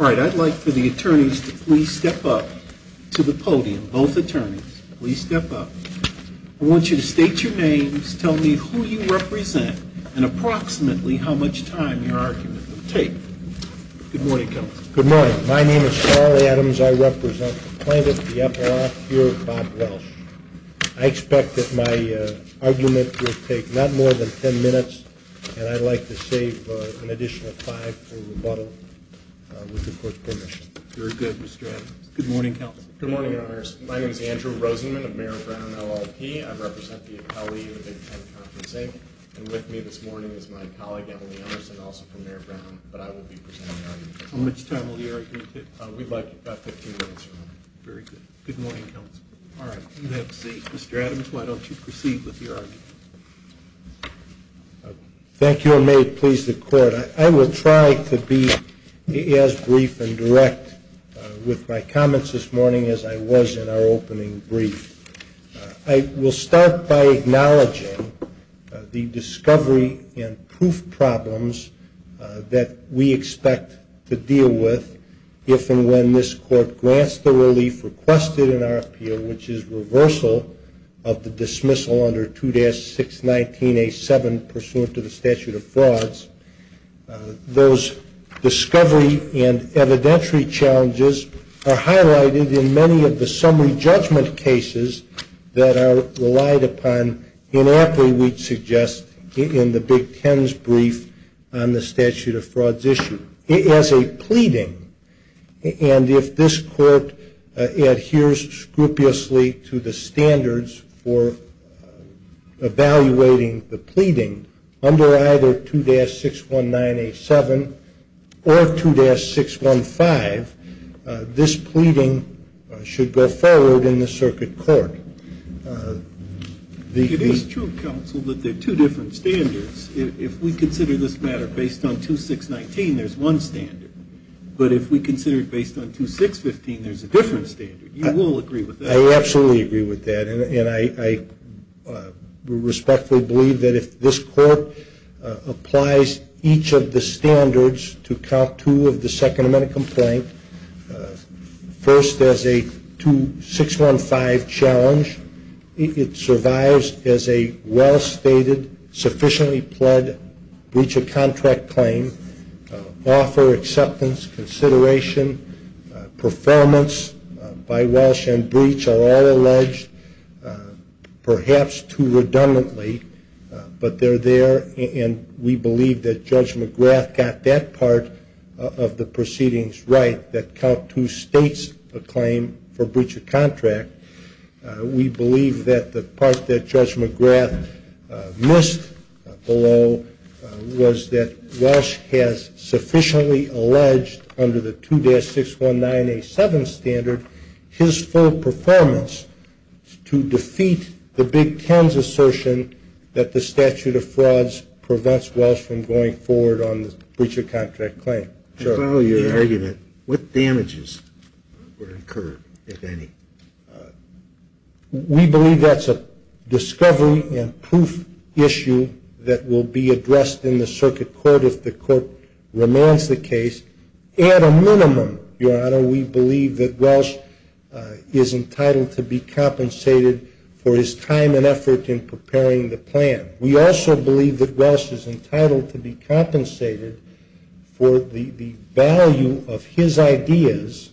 I'd like for the attorneys to please step up to the podium. Both attorneys, please step up. I want you to state your names, tell me who you represent, and approximately how much time your argument will take. Good morning, Kelly. Good morning. My name is Charlie Adams. I represent the plaintiff, the epilogue, here, Bob Welsh. I expect that my argument will take not more than ten minutes, and I'd like to save an additional five for rebuttal, with the court's permission. Very good, Mr. Adams. Good morning, Counsel. Good morning, Your Honors. My name is Andrew Rosenman of Mayor Brown, LLP. I represent the appellee of the Big Ten Conferencing, and with me this morning is my colleague, Emily Emerson, also from Mayor Brown, but I will be presenting the argument. How much time will the argument take? We'd like about 15 minutes. Very good. Good morning, Counsel. All right, you have a seat. Mr. Adams, why don't you proceed with your argument? Thank you, and may it please the Court. I will try to be as brief and direct with my comments this morning as I was in our opening brief. I will start by acknowledging the discovery and proof problems that we expect to deal with if and when this Court grants the relief requested in our appeal, which is reversal of the dismissal under 2-619A7 pursuant to the statute of frauds. Those discovery and evidentiary challenges are highlighted in many of the summary judgment cases that are relied upon inappropriately, we'd suggest, in the Big Ten's brief on the statute of frauds issue. As a pleading, and if this Court adheres scrupulously to the standards for evaluating the pleading under either 2-619A7 or 2-615, this pleading should go forward in the circuit court. It is true, Counsel, that there are two different standards. If we consider this matter based on 2-619, there's one standard. But if we consider it based on 2-615, there's a different standard. You will agree with that? I absolutely agree with that, and I respectfully believe that if this Court applies each of the standards to count two of the Second Amendment complaint, first as a 2-615 challenge, it survives as a well-stated, sufficiently pled breach of contract claim. Offer, acceptance, consideration, performance by Walsh and Breach are all alleged, perhaps too redundantly, but they're there, and we believe that Judge McGrath got that part of the proceedings right, that count two states a claim for breach of contract. We believe that the part that Judge McGrath missed below was that Walsh has sufficiently alleged under the 2-619A7 standard his full performance to defeat the Big Ten's assertion that the statute of frauds prevents Walsh from going forward on the breach of contract claim. I follow your argument. What damages were incurred, if any? We believe that's a discovery and proof issue that will be addressed in the Circuit Court if the Court remains the case. At a minimum, Your Honor, we believe that Walsh is entitled to be compensated for his time and effort in preparing the plan. We also believe that Walsh is entitled to be compensated for the value of his ideas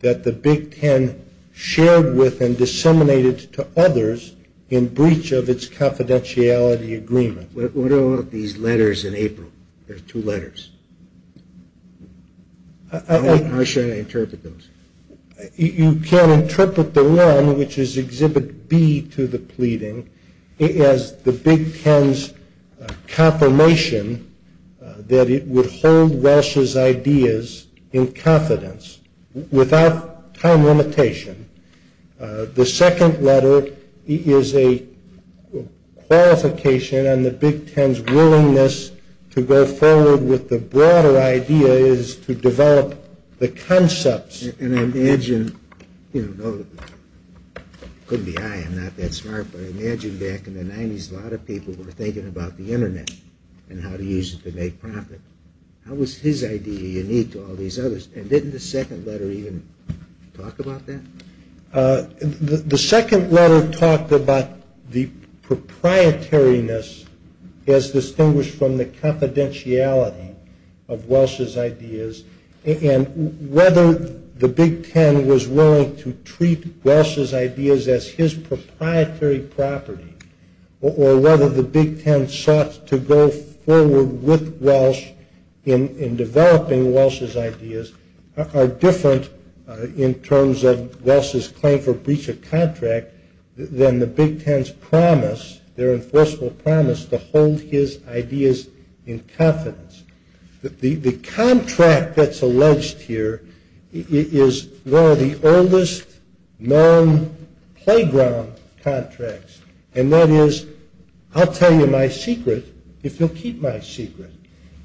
that the Big Ten shared with and disseminated to others in breach of its confidentiality agreement. What about these letters in April? There are two letters. How should I interpret those? You can interpret the one, which is Exhibit B to the pleading, as the Big Ten's confirmation that it would hold Walsh's ideas in confidence without time limitation. The second letter is a qualification on the Big Ten's willingness to go forward with the broader idea is to develop the concepts. And I imagine, couldn't be I, I'm not that smart, but I imagine back in the 90s a lot of people were thinking about the internet and how to use it to make profit. How was his idea unique to all these others? And didn't the second letter even talk about that? The second letter talked about the proprietoriness as distinguished from the confidentiality of Walsh's ideas. And whether the Big Ten was willing to treat Walsh's ideas as his proprietary property or whether the Big Ten sought to go forward with Walsh in developing Walsh's ideas are different in terms of Walsh's claim for breach of contract than the Big Ten's promise, their enforceable promise, to hold his ideas in confidence. The contract that's alleged here is one of the oldest known playground contracts. And that is, I'll tell you my secret if you'll keep my secret.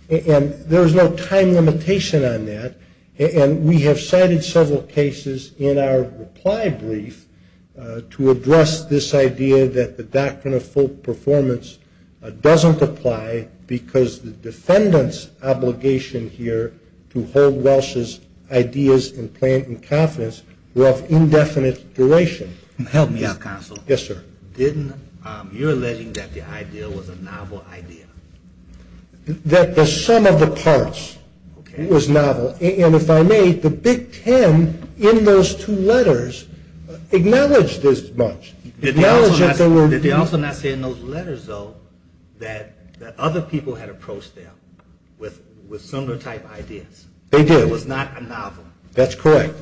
And there is no time limitation on that. And we have cited several cases in our reply brief to address this idea that the doctrine of full performance doesn't apply because the defendant's obligation here to hold Walsh's ideas in confidence were of indefinite duration. Help me out, counsel. Yes, sir. You're alleging that the idea was a novel idea. That the sum of the parts was novel. And if I may, the Big Ten in those two letters acknowledged this much. Did they also not say in those letters, though, that other people had approached them with similar type ideas? They did. It was not a novel. That's correct.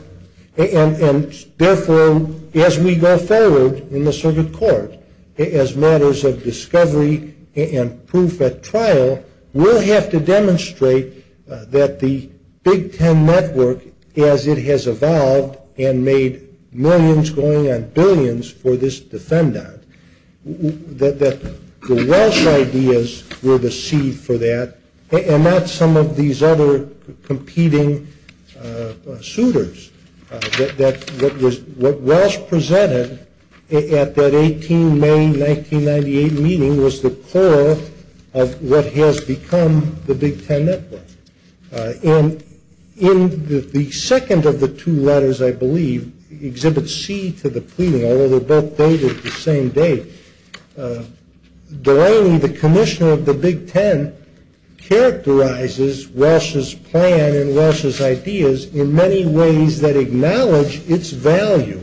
And therefore, as we go forward in the circuit court, as matters of discovery and proof at trial, we'll have to demonstrate that the Big Ten network, as it has evolved and made millions going on billions for this defendant, that the Walsh ideas were the seed for that and not some of these other competing suitors. What Walsh presented at that 18 May 1998 meeting was the core of what has become the Big Ten network. And in the second of the two letters, I believe, Exhibit C to the pleading, although they're both dated the same date, Delaney, the commissioner of the Big Ten, characterizes Walsh's plan and Walsh's ideas in many ways that acknowledge its value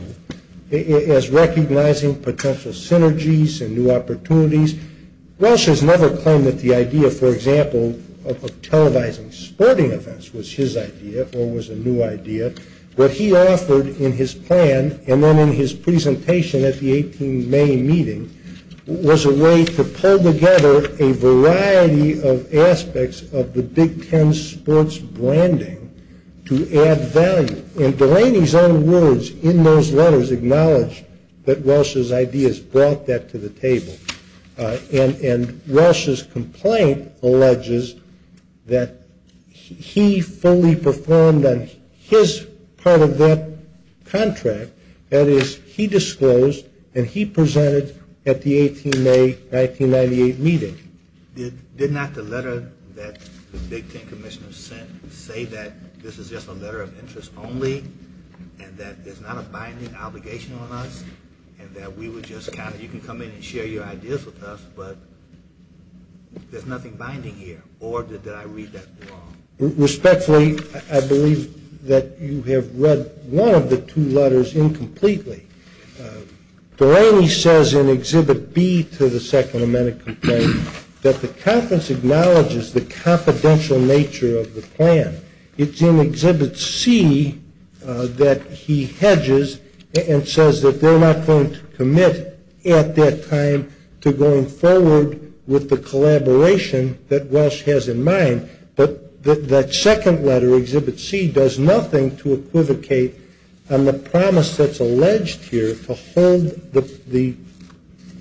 as recognizing potential synergies and new opportunities. Walsh has never claimed that the idea, for example, of televising sporting events was his idea or was a new idea. What he offered in his plan and then in his presentation at the 18 May meeting was a way to pull together a variety of aspects of the Big Ten sports branding to add value. And Delaney's own words in those letters acknowledge that Walsh's ideas brought that to the table. And Walsh's complaint alleges that he fully performed on his part of that contract, that is, he disclosed and he presented at the 18 May 1998 meeting. Did not the letter that the Big Ten commissioner sent say that this is just a letter of interest only and that there's not a binding obligation on us and that we would just kind of, you can come in and share your ideas with us, but there's nothing binding here or did I read that wrong? Respectfully, I believe that you have read one of the two letters incompletely. Delaney says in Exhibit B to the Second Amendment complaint that the conference acknowledges the confidential nature of the plan. It's in Exhibit C that he hedges and says that they're not going to commit at that time to going forward with the collaboration that Walsh has in mind. But that second letter, Exhibit C, does nothing to equivocate on the promise that's alleged here to hold the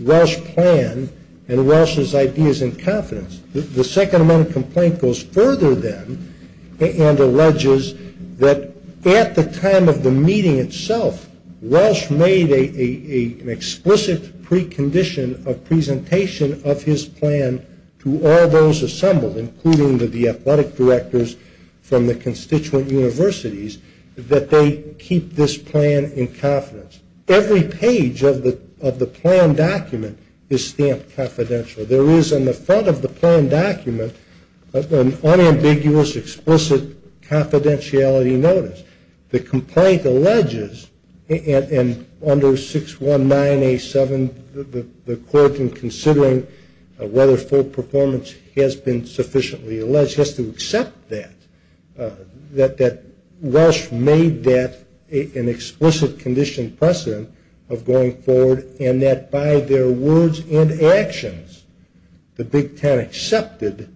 Walsh plan and Walsh's ideas in confidence. The Second Amendment complaint goes further then and alleges that at the time of the meeting itself, Walsh made an explicit precondition of presentation of his plan to all those assembled, including the athletic directors from the constituent universities, that they keep this plan in confidence. Every page of the plan document is stamped confidential. There is on the front of the plan document an unambiguous, explicit confidentiality notice. The complaint alleges, and under 619A7, the court in considering whether full performance has been sufficiently alleged, has to accept that, that Walsh made that an explicit condition precedent of going forward and that by their words and actions, the Big Ten accepted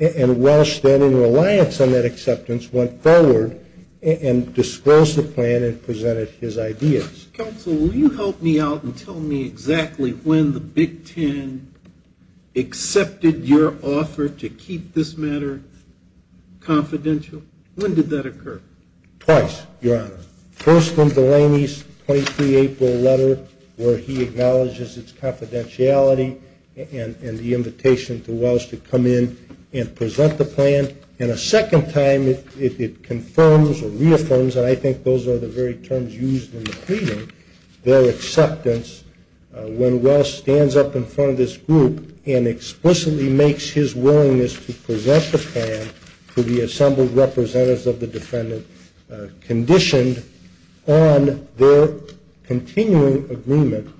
and Walsh, then in reliance on that acceptance, went forward and disclosed the plan and presented his ideas. Counsel, will you help me out and tell me exactly when the Big Ten accepted your offer to keep this matter confidential? When did that occur? Twice, Your Honor. First, in Delaney's 23 April letter where he acknowledges its confidentiality and the invitation to Walsh to come in and present the plan. And a second time it confirms or reaffirms, and I think those are the very terms used in the pleading, their acceptance when Walsh stands up in front of this group and explicitly makes his willingness to present the plan to the assembled representatives of the defendant conditioned on their continuing agreement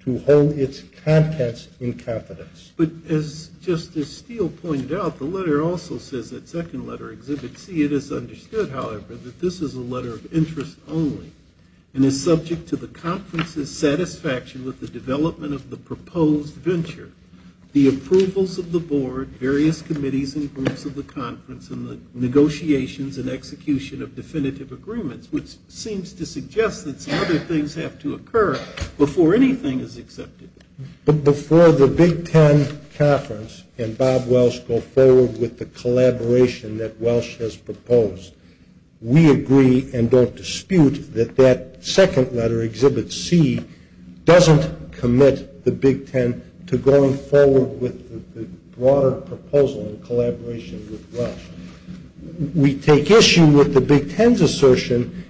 to hold its contents in confidence. But as Justice Steele pointed out, the letter also says that second letter, Exhibit C, it is understood, however, that this is a letter of interest only and is subject to the conference's satisfaction with the development of the proposed venture, the approvals of the board, various committees and groups of the conference, and the negotiations and execution of definitive agreements, which seems to suggest that some other things have to occur before anything is accepted. But before the Big Ten conference and Bob Walsh go forward with the collaboration that Walsh has proposed, we agree and don't dispute that that second letter, Exhibit C, doesn't commit the Big Ten to going forward with the broader proposal in collaboration with Walsh. We take issue with the Big Ten's assertion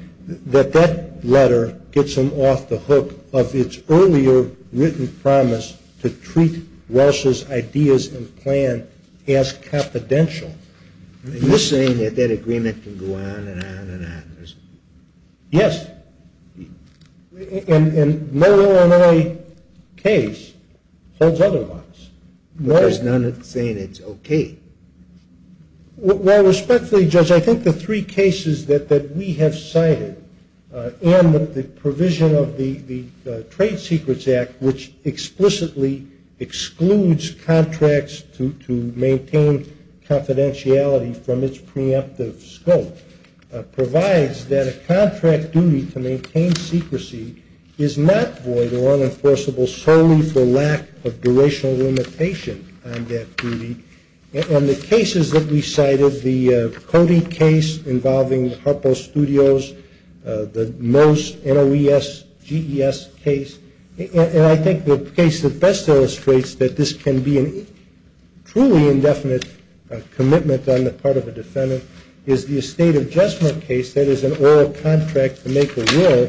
that that letter gets them off the hook of its earlier written promise to treat Walsh's ideas and plan as confidential. Are you saying that that agreement can go on and on and on? Yes. And no Illinois case holds otherwise. There's none saying it's okay. Well, respectfully, Judge, I think the three cases that we have cited and the provision of the Trade Secrets Act, which explicitly excludes contracts to maintain confidentiality from its preemptive scope, provides that a contract duty to maintain secrecy is not void or unenforceable solely for lack of durational limitation on that duty. And the cases that we cited, the Cody case involving Harpo Studios, the Mose, NOES, GES case, and I think the case that best illustrates that this can be a truly indefinite commitment on the part of a defendant, is the estate adjustment case that is an oral contract to make a will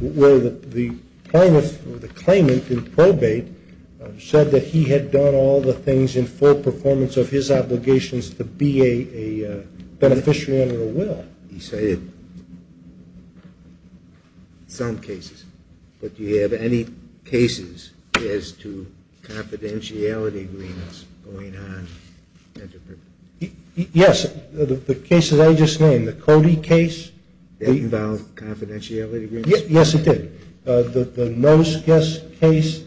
where the claimant in probate said that he had done all the things in full performance of his obligations to be a beneficiary under a will. You cited some cases. But do you have any cases as to confidentiality agreements going on? Yes. The cases I just named, the Cody case. Did it involve confidentiality agreements? Yes, it did. The Mose, GES case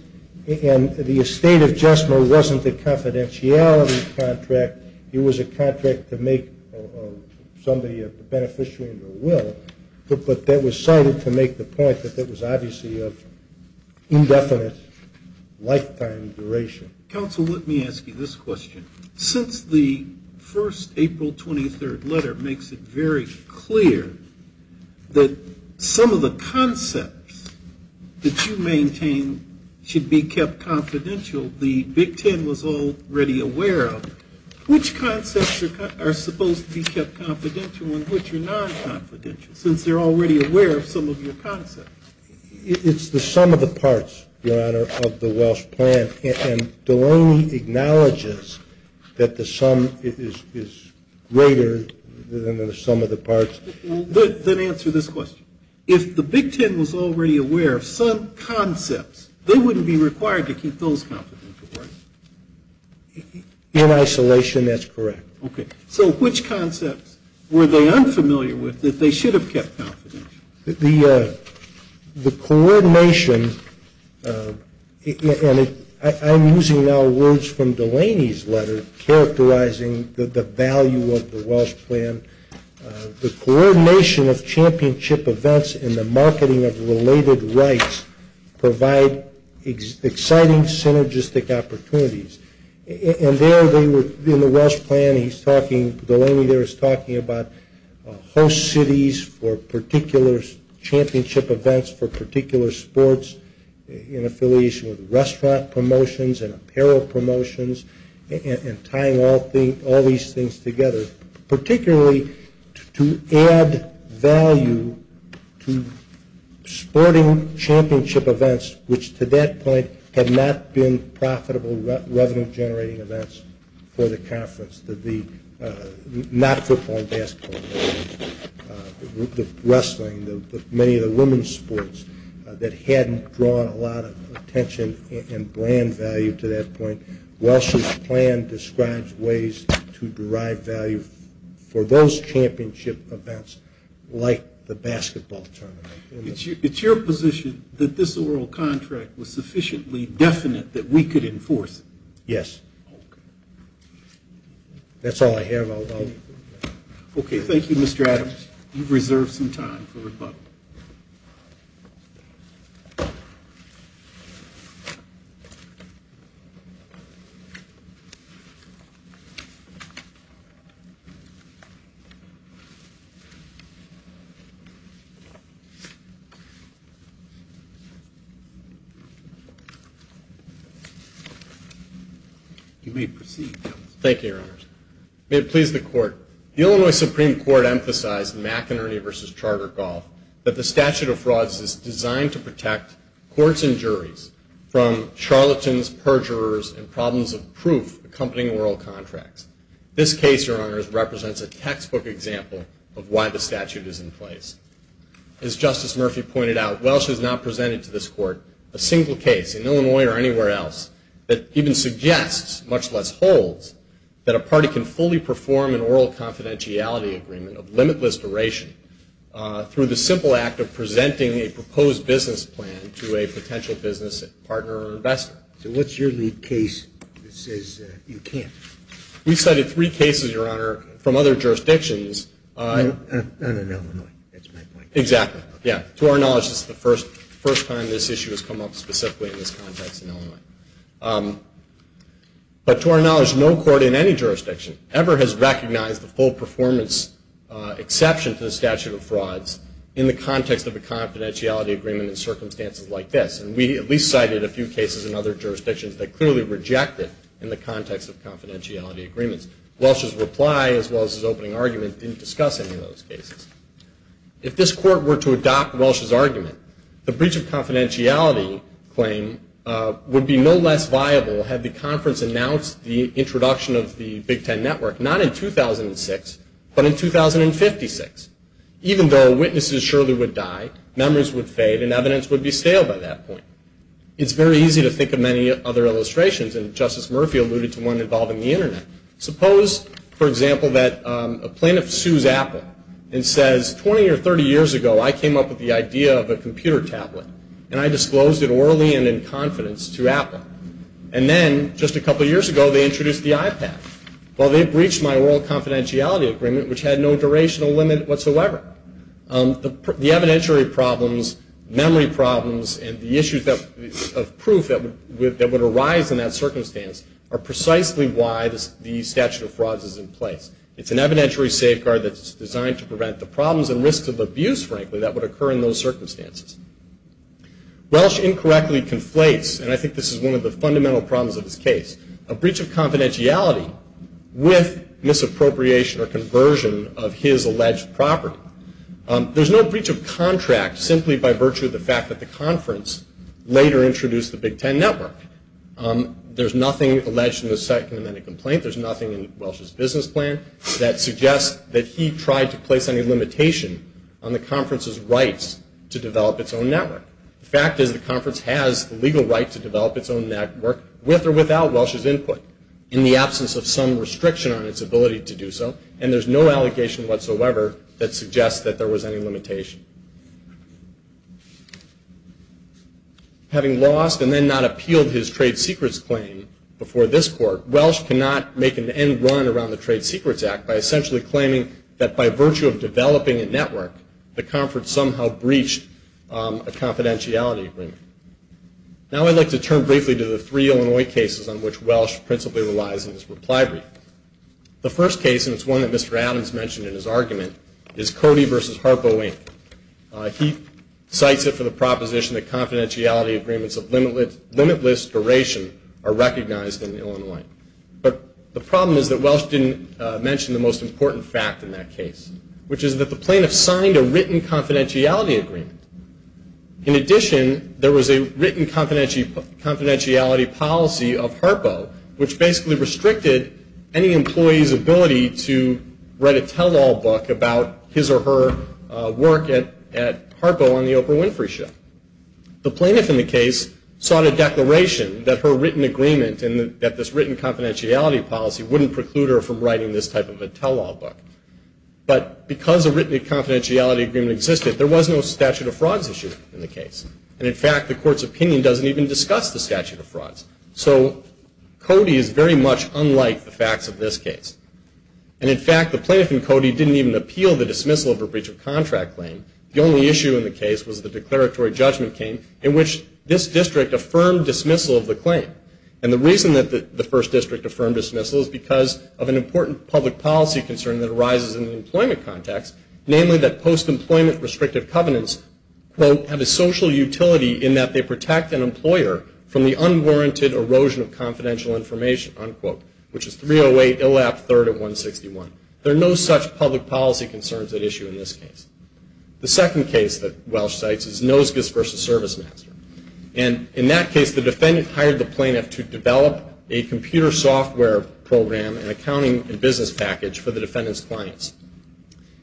and the estate adjustment wasn't a confidentiality contract. It was a contract to make somebody a beneficiary under a will. But that was cited to make the point that that was obviously of indefinite lifetime duration. Counsel, let me ask you this question. Since the first April 23rd letter makes it very clear that some of the concepts that you maintain should be kept confidential, the Big Ten was already aware of. Which concepts are supposed to be kept confidential and which are non-confidential, since they're already aware of some of your concepts? It's the sum of the parts, Your Honor, of the Welsh plan. And Delaney acknowledges that the sum is greater than the sum of the parts. Then answer this question. If the Big Ten was already aware of some concepts, they wouldn't be required to keep those confidential, right? In isolation, that's correct. Okay. So which concepts were they unfamiliar with that they should have kept confidential? The coordination, and I'm using now words from Delaney's letter characterizing the value of the Welsh plan. The coordination of championship events and the marketing of related rights provide exciting synergistic opportunities. In the Welsh plan, Delaney there is talking about host cities for particular championship events, for particular sports in affiliation with restaurant promotions and apparel promotions, and tying all these things together, particularly to add value to sporting championship events, which to that point had not been profitable revenue-generating events for the conference, not football and basketball, the wrestling, many of the women's sports, that hadn't drawn a lot of attention and brand value to that point. Welsh's plan describes ways to derive value for those championship events like the basketball tournament. It's your position that this oral contract was sufficiently definite that we could enforce it? Yes. That's all I have. Okay. You may proceed. Thank you, Your Honors. May it please the Court, the Illinois Supreme Court emphasized in McInerney v. Chartergolf that the statute of frauds is designed to protect courts and juries from charlatans, perjurers, and problems of proof accompanying oral contracts. This case, Your Honors, represents a textbook example of why the statute is in place. As Justice Murphy pointed out, Welsh has not presented to this Court a single case in Illinois or anywhere else that even suggests, much less holds, that a party can fully perform an oral confidentiality agreement of limitless duration through the simple act of presenting a proposed business plan to a potential business partner or investor. So what's your lead case that says you can't? We've cited three cases, Your Honor, from other jurisdictions. And in Illinois, that's my point. Exactly, yeah. To our knowledge, this is the first time this issue has come up specifically in this context in Illinois. But to our knowledge, no court in any jurisdiction ever has recognized the full performance exception to the statute of frauds in the context of a confidentiality agreement in circumstances like this. And we at least cited a few cases in other jurisdictions that clearly reject it in the context of confidentiality agreements. Welsh's reply, as well as his opening argument, didn't discuss any of those cases. If this Court were to adopt Welsh's argument, the breach of confidentiality claim would be no less viable had the conference announced the introduction of the Big Ten Network, not in 2006, but in 2056, even though witnesses surely would die, memories would fade, and evidence would be stale by that point. It's very easy to think of many other illustrations, and Justice Murphy alluded to one involving the Internet, suppose, for example, that a plaintiff sues Apple and says, 20 or 30 years ago, I came up with the idea of a computer tablet, and I disclosed it orally and in confidence to Apple. And then, just a couple years ago, they introduced the iPad. Well, they breached my oral confidentiality agreement, which had no durational limit whatsoever. The evidentiary problems, memory problems, and the issues of proof that would arise in that circumstance are precisely why the statute of frauds is in place. It's an evidentiary safeguard that's designed to prevent the problems and risks of abuse, frankly, that would occur in those circumstances. Welsh incorrectly conflates, and I think this is one of the fundamental problems of his case, a breach of confidentiality with misappropriation or conversion of his alleged property. There's no breach of contract simply by virtue of the fact that the conference later introduced the Big Ten Network. There's nothing alleged in the second amendment complaint. There's nothing in Welsh's business plan that suggests that he tried to place any limitation on the conference's rights to develop its own network. The fact is the conference has the legal right to develop its own network with or without Welsh's input in the absence of some restriction on its ability to do so, and there's no allegation whatsoever that suggests that there was any limitation. Having lost and then not appealed his trade secrets claim before this court, Welsh cannot make an end run around the Trade Secrets Act by essentially claiming that by virtue of developing a network, the conference somehow breached a confidentiality agreement. Now I'd like to turn briefly to the three Illinois cases on which Welsh principally relies in this reply brief. The first case, and it's one that Mr. Adams mentioned in his argument, is Cody v. Harpo, Inc. He cites it for the proposition that confidentiality agreements of limitless duration are recognized in Illinois. But the problem is that Welsh didn't mention the most important fact in that case, which is that the plaintiff signed a written confidentiality agreement. In addition, there was a written confidentiality policy of Harpo, which basically restricted any employee's ability to write a tell-all book about his or her work at Harpo on the Oprah Winfrey show. The plaintiff in the case sought a declaration that her written agreement and that this written confidentiality policy wouldn't preclude her from writing this type of a tell-all book. But because a written confidentiality agreement existed, there was no statute of frauds issue in the case. And in fact, the court's opinion doesn't even discuss the statute of frauds. So Cody is very much unlike the facts of this case. And in fact, the plaintiff in Cody didn't even appeal the dismissal of her breach of contract claim. The only issue in the case was the declaratory judgment came in which this district affirmed dismissal of the claim. And the reason that the First District affirmed dismissal is because of an important public policy concern that arises in the employment context, namely that post-employment restrictive covenants, quote, have a social utility in that they protect an employer from the unwarranted erosion of confidential information, unquote, which is 308 ILAP 3rd of 161. There are no such public policy concerns at issue in this case. The second case that Welch cites is Nosgis v. ServiceMaster. And in that case, the defendant hired the plaintiff to develop a computer software program, an accounting and business package for the defendant's clients,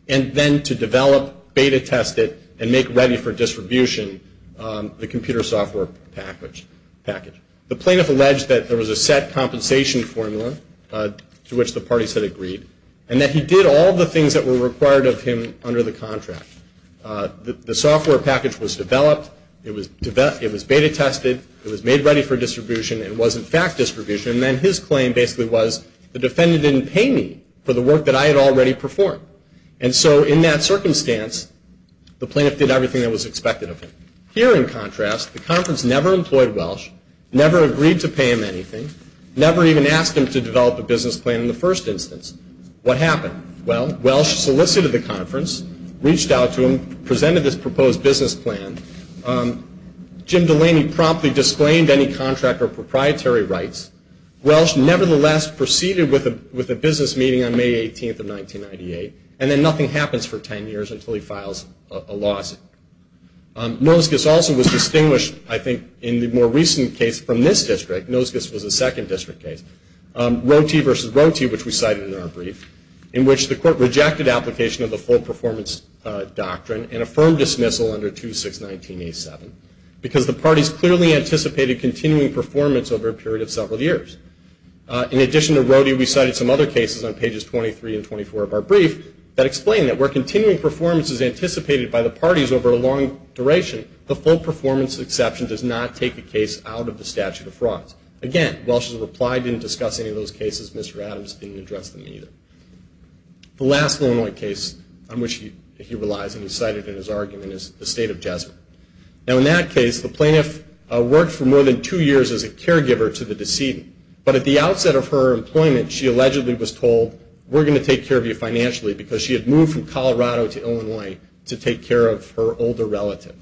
and then to develop, beta test it, and make ready for distribution the computer software package. The plaintiff alleged that there was a set compensation formula to which the parties had agreed and that he did all the things that were required of him under the contract. The software package was developed. It was beta tested. It was made ready for distribution. It was, in fact, distribution. And then his claim basically was the defendant didn't pay me for the work that I had already performed. And so in that circumstance, the plaintiff did everything that was expected of him. Here, in contrast, the conference never employed Welch, never agreed to pay him anything, never even asked him to develop a business plan in the first instance. What happened? Well, Welch solicited the conference, reached out to him, presented this proposed business plan. Jim Delaney promptly disclaimed any contract or proprietary rights. Welch, nevertheless, proceeded with a business meeting on May 18th of 1998. And then nothing happens for 10 years until he files a lawsuit. Nosgus also was distinguished, I think, in the more recent case from this district. Nosgus was a second district case. Rote versus Rote, which we cited in our brief, in which the court rejected application of the full performance doctrine and affirmed dismissal under 2619A7 because the parties clearly anticipated continuing performance over a period of several years. In addition to Rote, we cited some other cases on pages 23 and 24 of our brief that explain that where continuing performance is anticipated by the parties over a long duration, the full performance exception does not take the case out of the statute of frauds. Again, Welch's reply didn't discuss any of those cases. Mr. Adams didn't address them either. The last Illinois case on which he relies, and he cited in his argument, is the state of Jesuit. Now, in that case, the plaintiff worked for more than two years as a caregiver to the decedent. But at the outset of her employment, she allegedly was told, we're going to take care of you financially, because she had moved from Colorado to Illinois to take care of her older relative.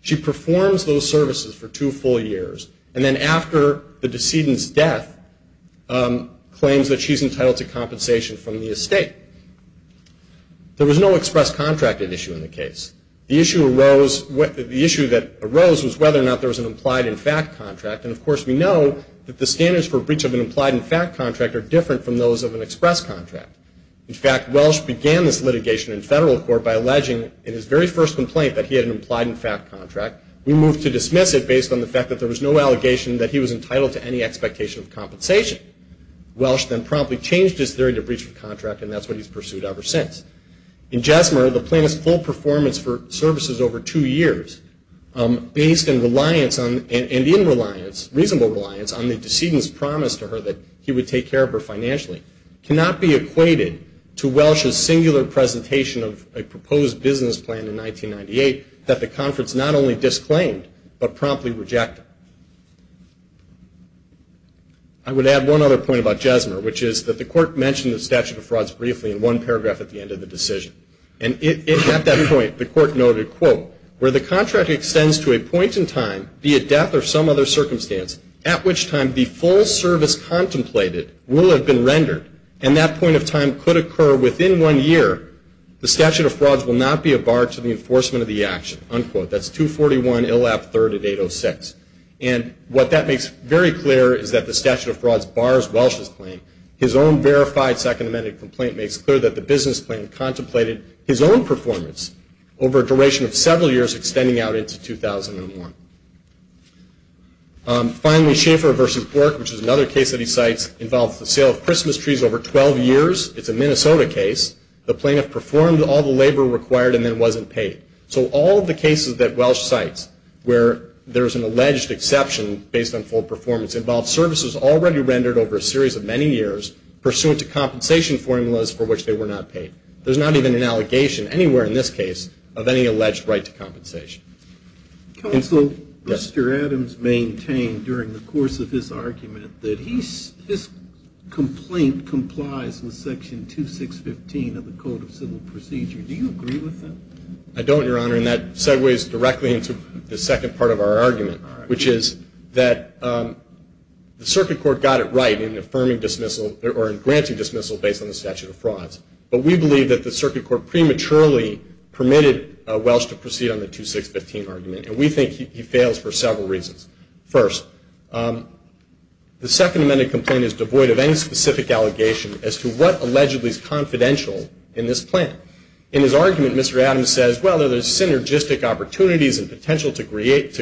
She performs those services for two full years. And then after the decedent's death, claims that she's entitled to compensation from the estate. There was no express contract issue in the case. The issue that arose was whether or not there was an implied in fact contract. And, of course, we know that the standards for breach of an implied in fact contract are different from those of an express contract. In fact, Welch began this litigation in federal court by alleging, in his very first complaint, that he had an implied in fact contract. We moved to dismiss it based on the fact that there was no allegation that he was entitled to any expectation of compensation. Welch then promptly changed his theory to breach of contract, and that's what he's pursued ever since. In Jesmer, the plaintiff's full performance for services over two years, based in reliance on, and in reliance, reasonable reliance, on the decedent's promise to her that he would take care of her financially, cannot be equated to Welch's singular presentation of a proposed business plan in 1998 that the conference not only disclaimed, but promptly rejected. I would add one other point about Jesmer, which is that the Court mentioned the statute of frauds briefly in one paragraph at the end of the decision. And at that point, the Court noted, quote, where the contract extends to a point in time, be it death or some other circumstance, at which time the full service contemplated will have been rendered, and that point of time could occur within one year, the statute of frauds will not be a bar to the enforcement of the action. Unquote. That's 241 Illap III at 806. And what that makes very clear is that the statute of frauds bars Welch's claim. His own verified Second Amendment complaint makes clear that the business plan contemplated his own performance over a duration of several years, extending out into 2001. Finally, Schaeffer v. Bork, which is another case that he cites, involves the sale of Christmas trees over 12 years. It's a Minnesota case. The plaintiff performed all the labor required and then wasn't paid. So all of the cases that Welch cites where there's an alleged exception based on full performance involve services already rendered over a series of many years pursuant to compensation formulas for which they were not paid. There's not even an allegation anywhere in this case of any alleged right to compensation. Counsel, Mr. Adams maintained during the course of his argument that his complaint complies with Section 2615 of the Code of Civil Procedure. Do you agree with that? I don't, Your Honor. And that segues directly into the second part of our argument, which is that the Circuit Court got it right in affirming dismissal or in granting dismissal based on the statute of frauds. But we believe that the Circuit Court prematurely permitted Welch to proceed on the 2615 argument. And we think he fails for several reasons. First, the Second Amendment complaint is devoid of any specific allegation as to what allegedly is confidential in this plan. In his argument, Mr. Adams says, well, there's synergistic opportunities and potential to create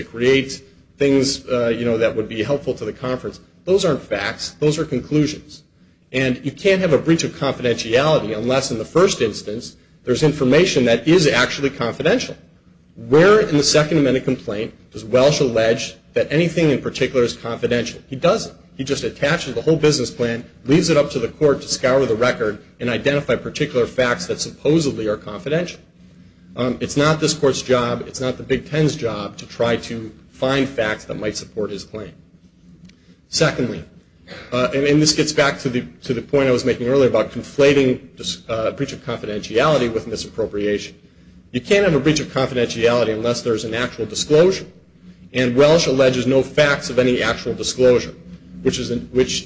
things, you know, that would be helpful to the conference. Those aren't facts. Those are conclusions. And you can't have a breach of confidentiality unless in the first instance there's information that is actually confidential. Where in the Second Amendment complaint does Welch allege that anything in particular is confidential? He doesn't. He just attaches the whole business plan, leaves it up to the court to scour the record, and identify particular facts that supposedly are confidential. It's not this Court's job, it's not the Big Ten's job to try to find facts that might support his claim. Secondly, and this gets back to the point I was making earlier about conflating a breach of confidentiality with misappropriation, you can't have a breach of confidentiality unless there's an actual disclosure. And Welch alleges no facts of any actual disclosure, which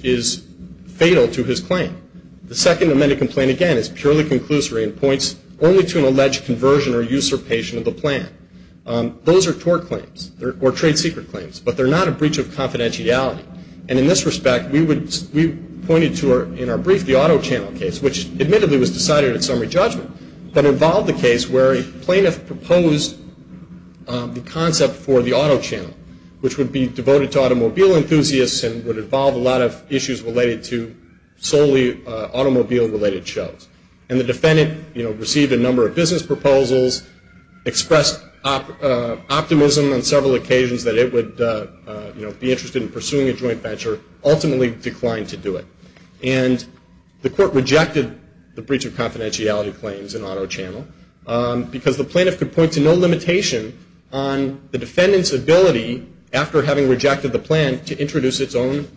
is fatal to his claim. The Second Amendment complaint, again, is purely conclusory and points only to an alleged conversion or usurpation of the plan. Those are tort claims or trade secret claims, but they're not a breach of confidentiality. And in this respect, we pointed to in our brief the auto channel case, which admittedly was decided at summary judgment, but involved a case where a plaintiff proposed the concept for the auto channel, which would be devoted to automobile enthusiasts and would involve a lot of issues related to solely automobile-related shows. And the defendant received a number of business proposals, expressed optimism on several occasions that it would be interested in pursuing a joint venture, ultimately declined to do it. And the court rejected the breach of confidentiality claims in auto channel because the plaintiff could point to no limitation on the defendant's ability, after having rejected the plan, to introduce its own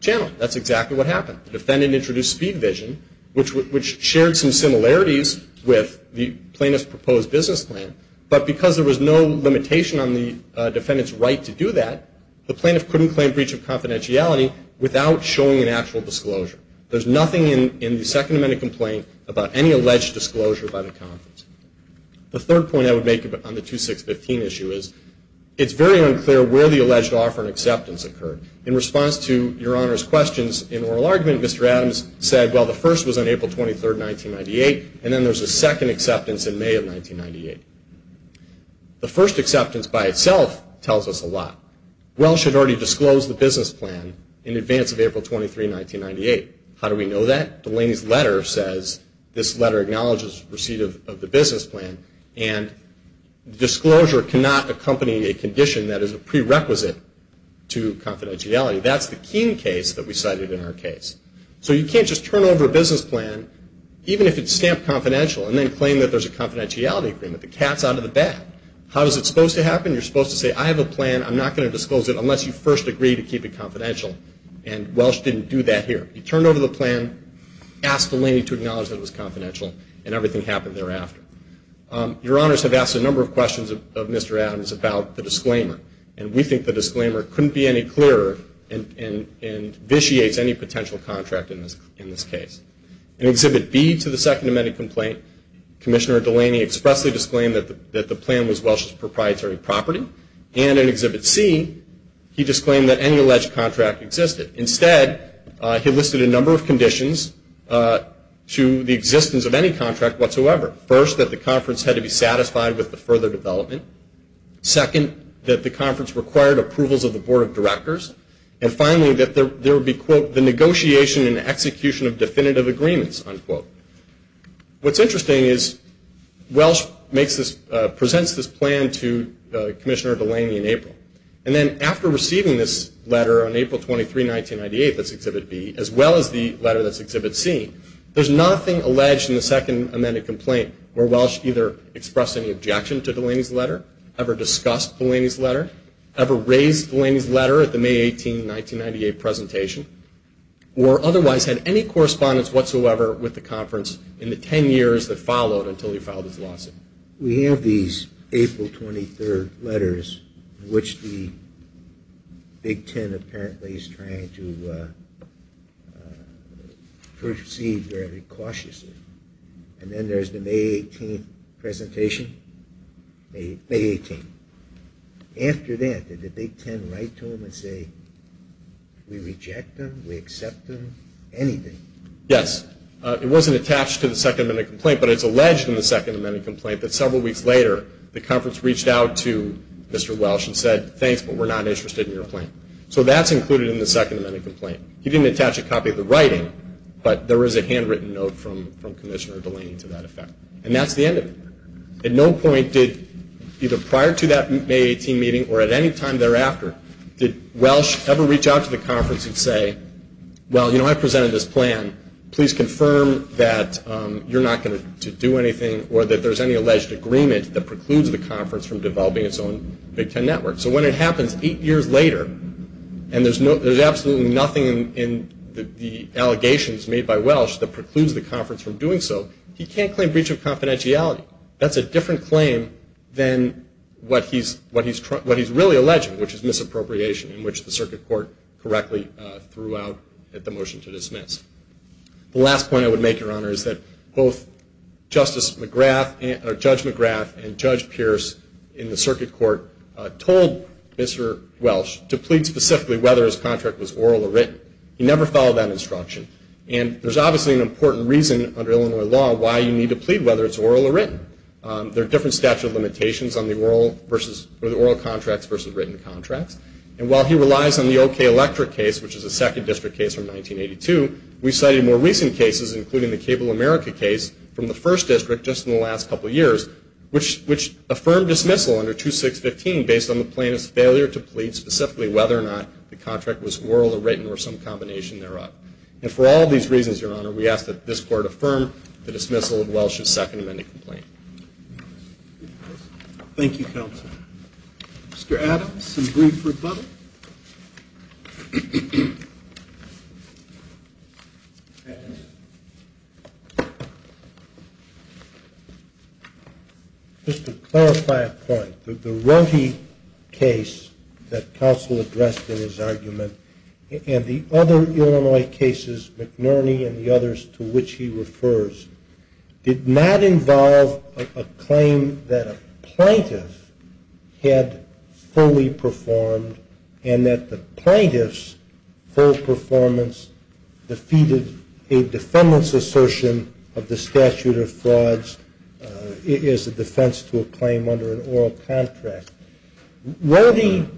channel. That's exactly what happened. The defendant introduced speed vision, which shared some similarities with the plaintiff's proposed business plan. But because there was no limitation on the defendant's right to do that, the plaintiff couldn't claim breach of confidentiality without showing an actual disclosure. There's nothing in the Second Amendment complaint about any alleged disclosure by the conference. The third point I would make on the 2615 issue is, it's very unclear where the alleged offer and acceptance occurred. In response to Your Honor's questions in oral argument, Mr. Adams said, well, the first was on April 23, 1998, and then there's a second acceptance in May of 1998. The first acceptance by itself tells us a lot. Well should already disclose the business plan in advance of April 23, 1998. How do we know that? Delaney's letter says, this letter acknowledges receipt of the business plan, and disclosure cannot accompany a condition that is a prerequisite to confidentiality. That's the keen case that we cited in our case. So you can't just turn over a business plan, even if it's stamped confidential, and then claim that there's a confidentiality agreement. The cat's out of the bag. How is it supposed to happen? You're supposed to say, I have a plan. I'm not going to disclose it unless you first agree to keep it confidential, and Welsh didn't do that here. He turned over the plan, asked Delaney to acknowledge that it was confidential, and everything happened thereafter. Your Honors have asked a number of questions of Mr. Adams about the disclaimer, and we think the disclaimer couldn't be any clearer and vitiates any potential contract in this case. In Exhibit B to the Second Amended Complaint, Commissioner Delaney expressly disclaimed that the plan was Welsh's proprietary property. And in Exhibit C, he disclaimed that any alleged contract existed. Instead, he listed a number of conditions to the existence of any contract whatsoever. First, that the conference had to be satisfied with the further development. Second, that the conference required approvals of the Board of Directors. And finally, that there would be, quote, the negotiation and execution of definitive agreements, unquote. What's interesting is Welsh presents this plan to Commissioner Delaney in April. And then after receiving this letter on April 23, 1998, that's Exhibit B, as well as the letter that's Exhibit C, there's nothing alleged in the Second Amended Complaint where Welsh either expressed raised Delaney's letter at the May 18, 1998, presentation, or otherwise had any correspondence whatsoever with the conference in the ten years that followed until he filed his lawsuit. We have these April 23 letters, which the Big Ten apparently is trying to proceed very cautiously. And then there's the May 18 presentation. May 18. After that, did the Big Ten write to him and say, we reject them, we accept them, anything? Yes. It wasn't attached to the Second Amended Complaint, but it's alleged in the Second Amended Complaint that several weeks later, the conference reached out to Mr. Welsh and said, thanks, but we're not interested in your plan. So that's included in the Second Amended Complaint. He didn't attach a copy of the writing, but there is a handwritten note from Commissioner Delaney to that effect. And that's the end of it. At no point did, either prior to that May 18 meeting or at any time thereafter, did Welsh ever reach out to the conference and say, well, you know, I presented this plan. Please confirm that you're not going to do anything or that there's any alleged agreement that precludes the conference from developing its own Big Ten network. So when it happens eight years later and there's absolutely nothing in the allegations made by Welsh that precludes the conference from doing so, he can't claim breach of confidentiality. That's a different claim than what he's really alleging, which is misappropriation, in which the Circuit Court correctly threw out the motion to dismiss. The last point I would make, Your Honor, is that both Judge McGrath and Judge Pierce in the Circuit Court told Mr. Welsh to plead specifically whether his contract was oral or written. He never followed that instruction. And there's obviously an important reason under Illinois law why you need to plead whether it's oral or written. There are different statute of limitations on the oral contracts versus written contracts. And while he relies on the O.K. Electric case, which is a second district case from 1982, we cited more recent cases, including the Cable America case, from the first district just in the last couple of years, which affirmed dismissal under 2615 based on the plaintiff's failure to plead specifically whether or not the contract was oral or written or some combination thereof. And for all these reasons, Your Honor, we ask that this Court affirm the dismissal of Welsh's Second Amendment complaint. Thank you, counsel. Mr. Adams, some brief rebuttal. Just to clarify a point, the Rohde case that counsel addressed in his argument and the other Illinois cases, McNerney and the others to which he refers, did not involve a claim that a plaintiff had fully performed and that the plaintiff's full performance defeated a defendant's assertion of the statute of frauds as a defense to a claim under an oral contract. Rohde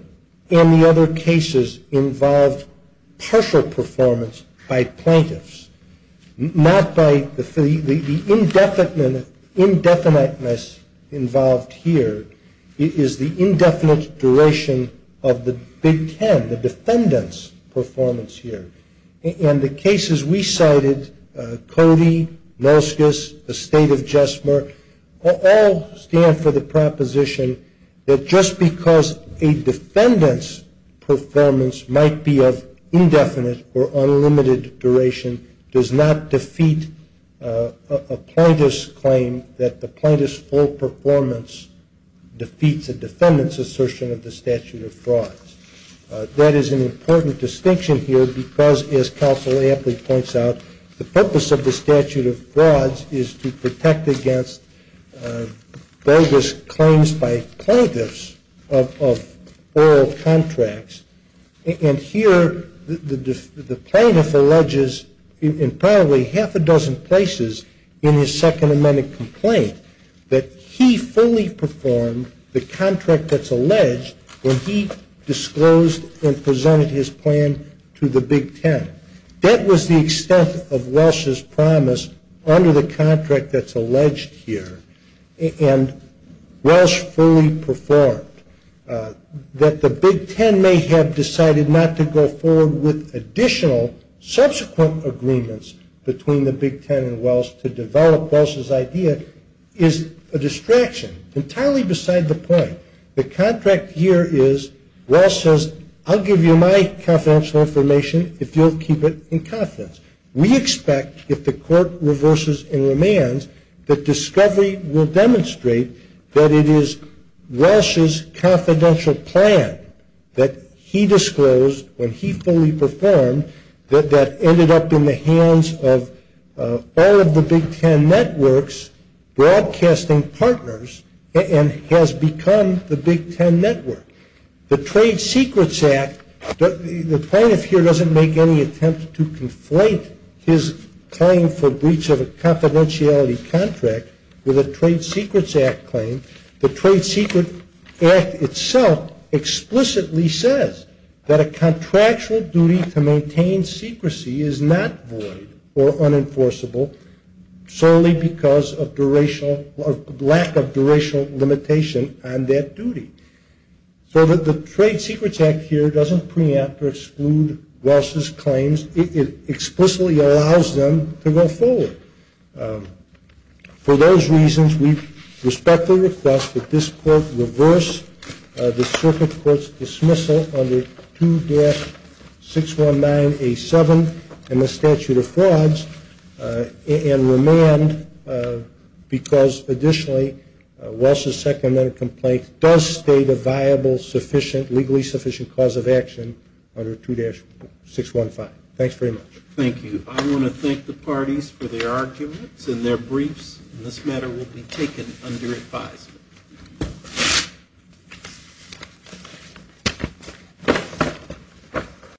and the other cases involved partial performance by plaintiffs, not by the indefiniteness involved here. It is the indefinite duration of the Big Ten, the defendant's performance here. And the cases we cited, Cody, Nolskus, the State of Jesmer, all stand for the proposition that just because a defendant's performance might be of indefinite or unlimited duration does not defeat a plaintiff's claim that the plaintiff's full performance defeats a defendant's assertion of the statute of frauds. That is an important distinction here because, as counsel aptly points out, the purpose of the statute of frauds is to protect against bogus claims by plaintiffs of oral contracts. And here the plaintiff alleges in probably half a dozen places in his Second Amendment complaint that he fully performed the contract that's alleged when he disclosed and presented his plan to the Big Ten. That was the extent of Welsh's promise under the contract that's alleged here, and Welsh fully performed. That the Big Ten may have decided not to go forward with additional subsequent agreements between the Big Ten and Welsh to develop Welsh's idea is a distraction, entirely beside the point. The contract here is, Welsh says, I'll give you my confidential information if you'll keep it in confidence. We expect, if the court reverses and remands, that discovery will demonstrate that it is Welsh's confidential plan that he disclosed when he fully performed that ended up in the hands of all of the Big Ten networks' broadcasting partners and has become the Big Ten network. The Trade Secrets Act, the plaintiff here doesn't make any attempt to conflate his claim for breach of a confidentiality contract with a Trade Secrets Act claim. The Trade Secret Act itself explicitly says that a contractual duty to maintain secrecy is not void or unenforceable solely because of lack of durational limitation on that duty. So the Trade Secrets Act here doesn't preempt or exclude Welsh's claims. It explicitly allows them to go forward. For those reasons, we respectfully request that this court reverse the circuit court's dismissal under 2-619A7 in the statute of frauds and remand because, additionally, Welsh's second amendment complaint does state a viable, sufficient, legally sufficient cause of action under 2-615. Thanks very much. Thank you. I want to thank the parties for their arguments and their briefs. This matter will be taken under advisement.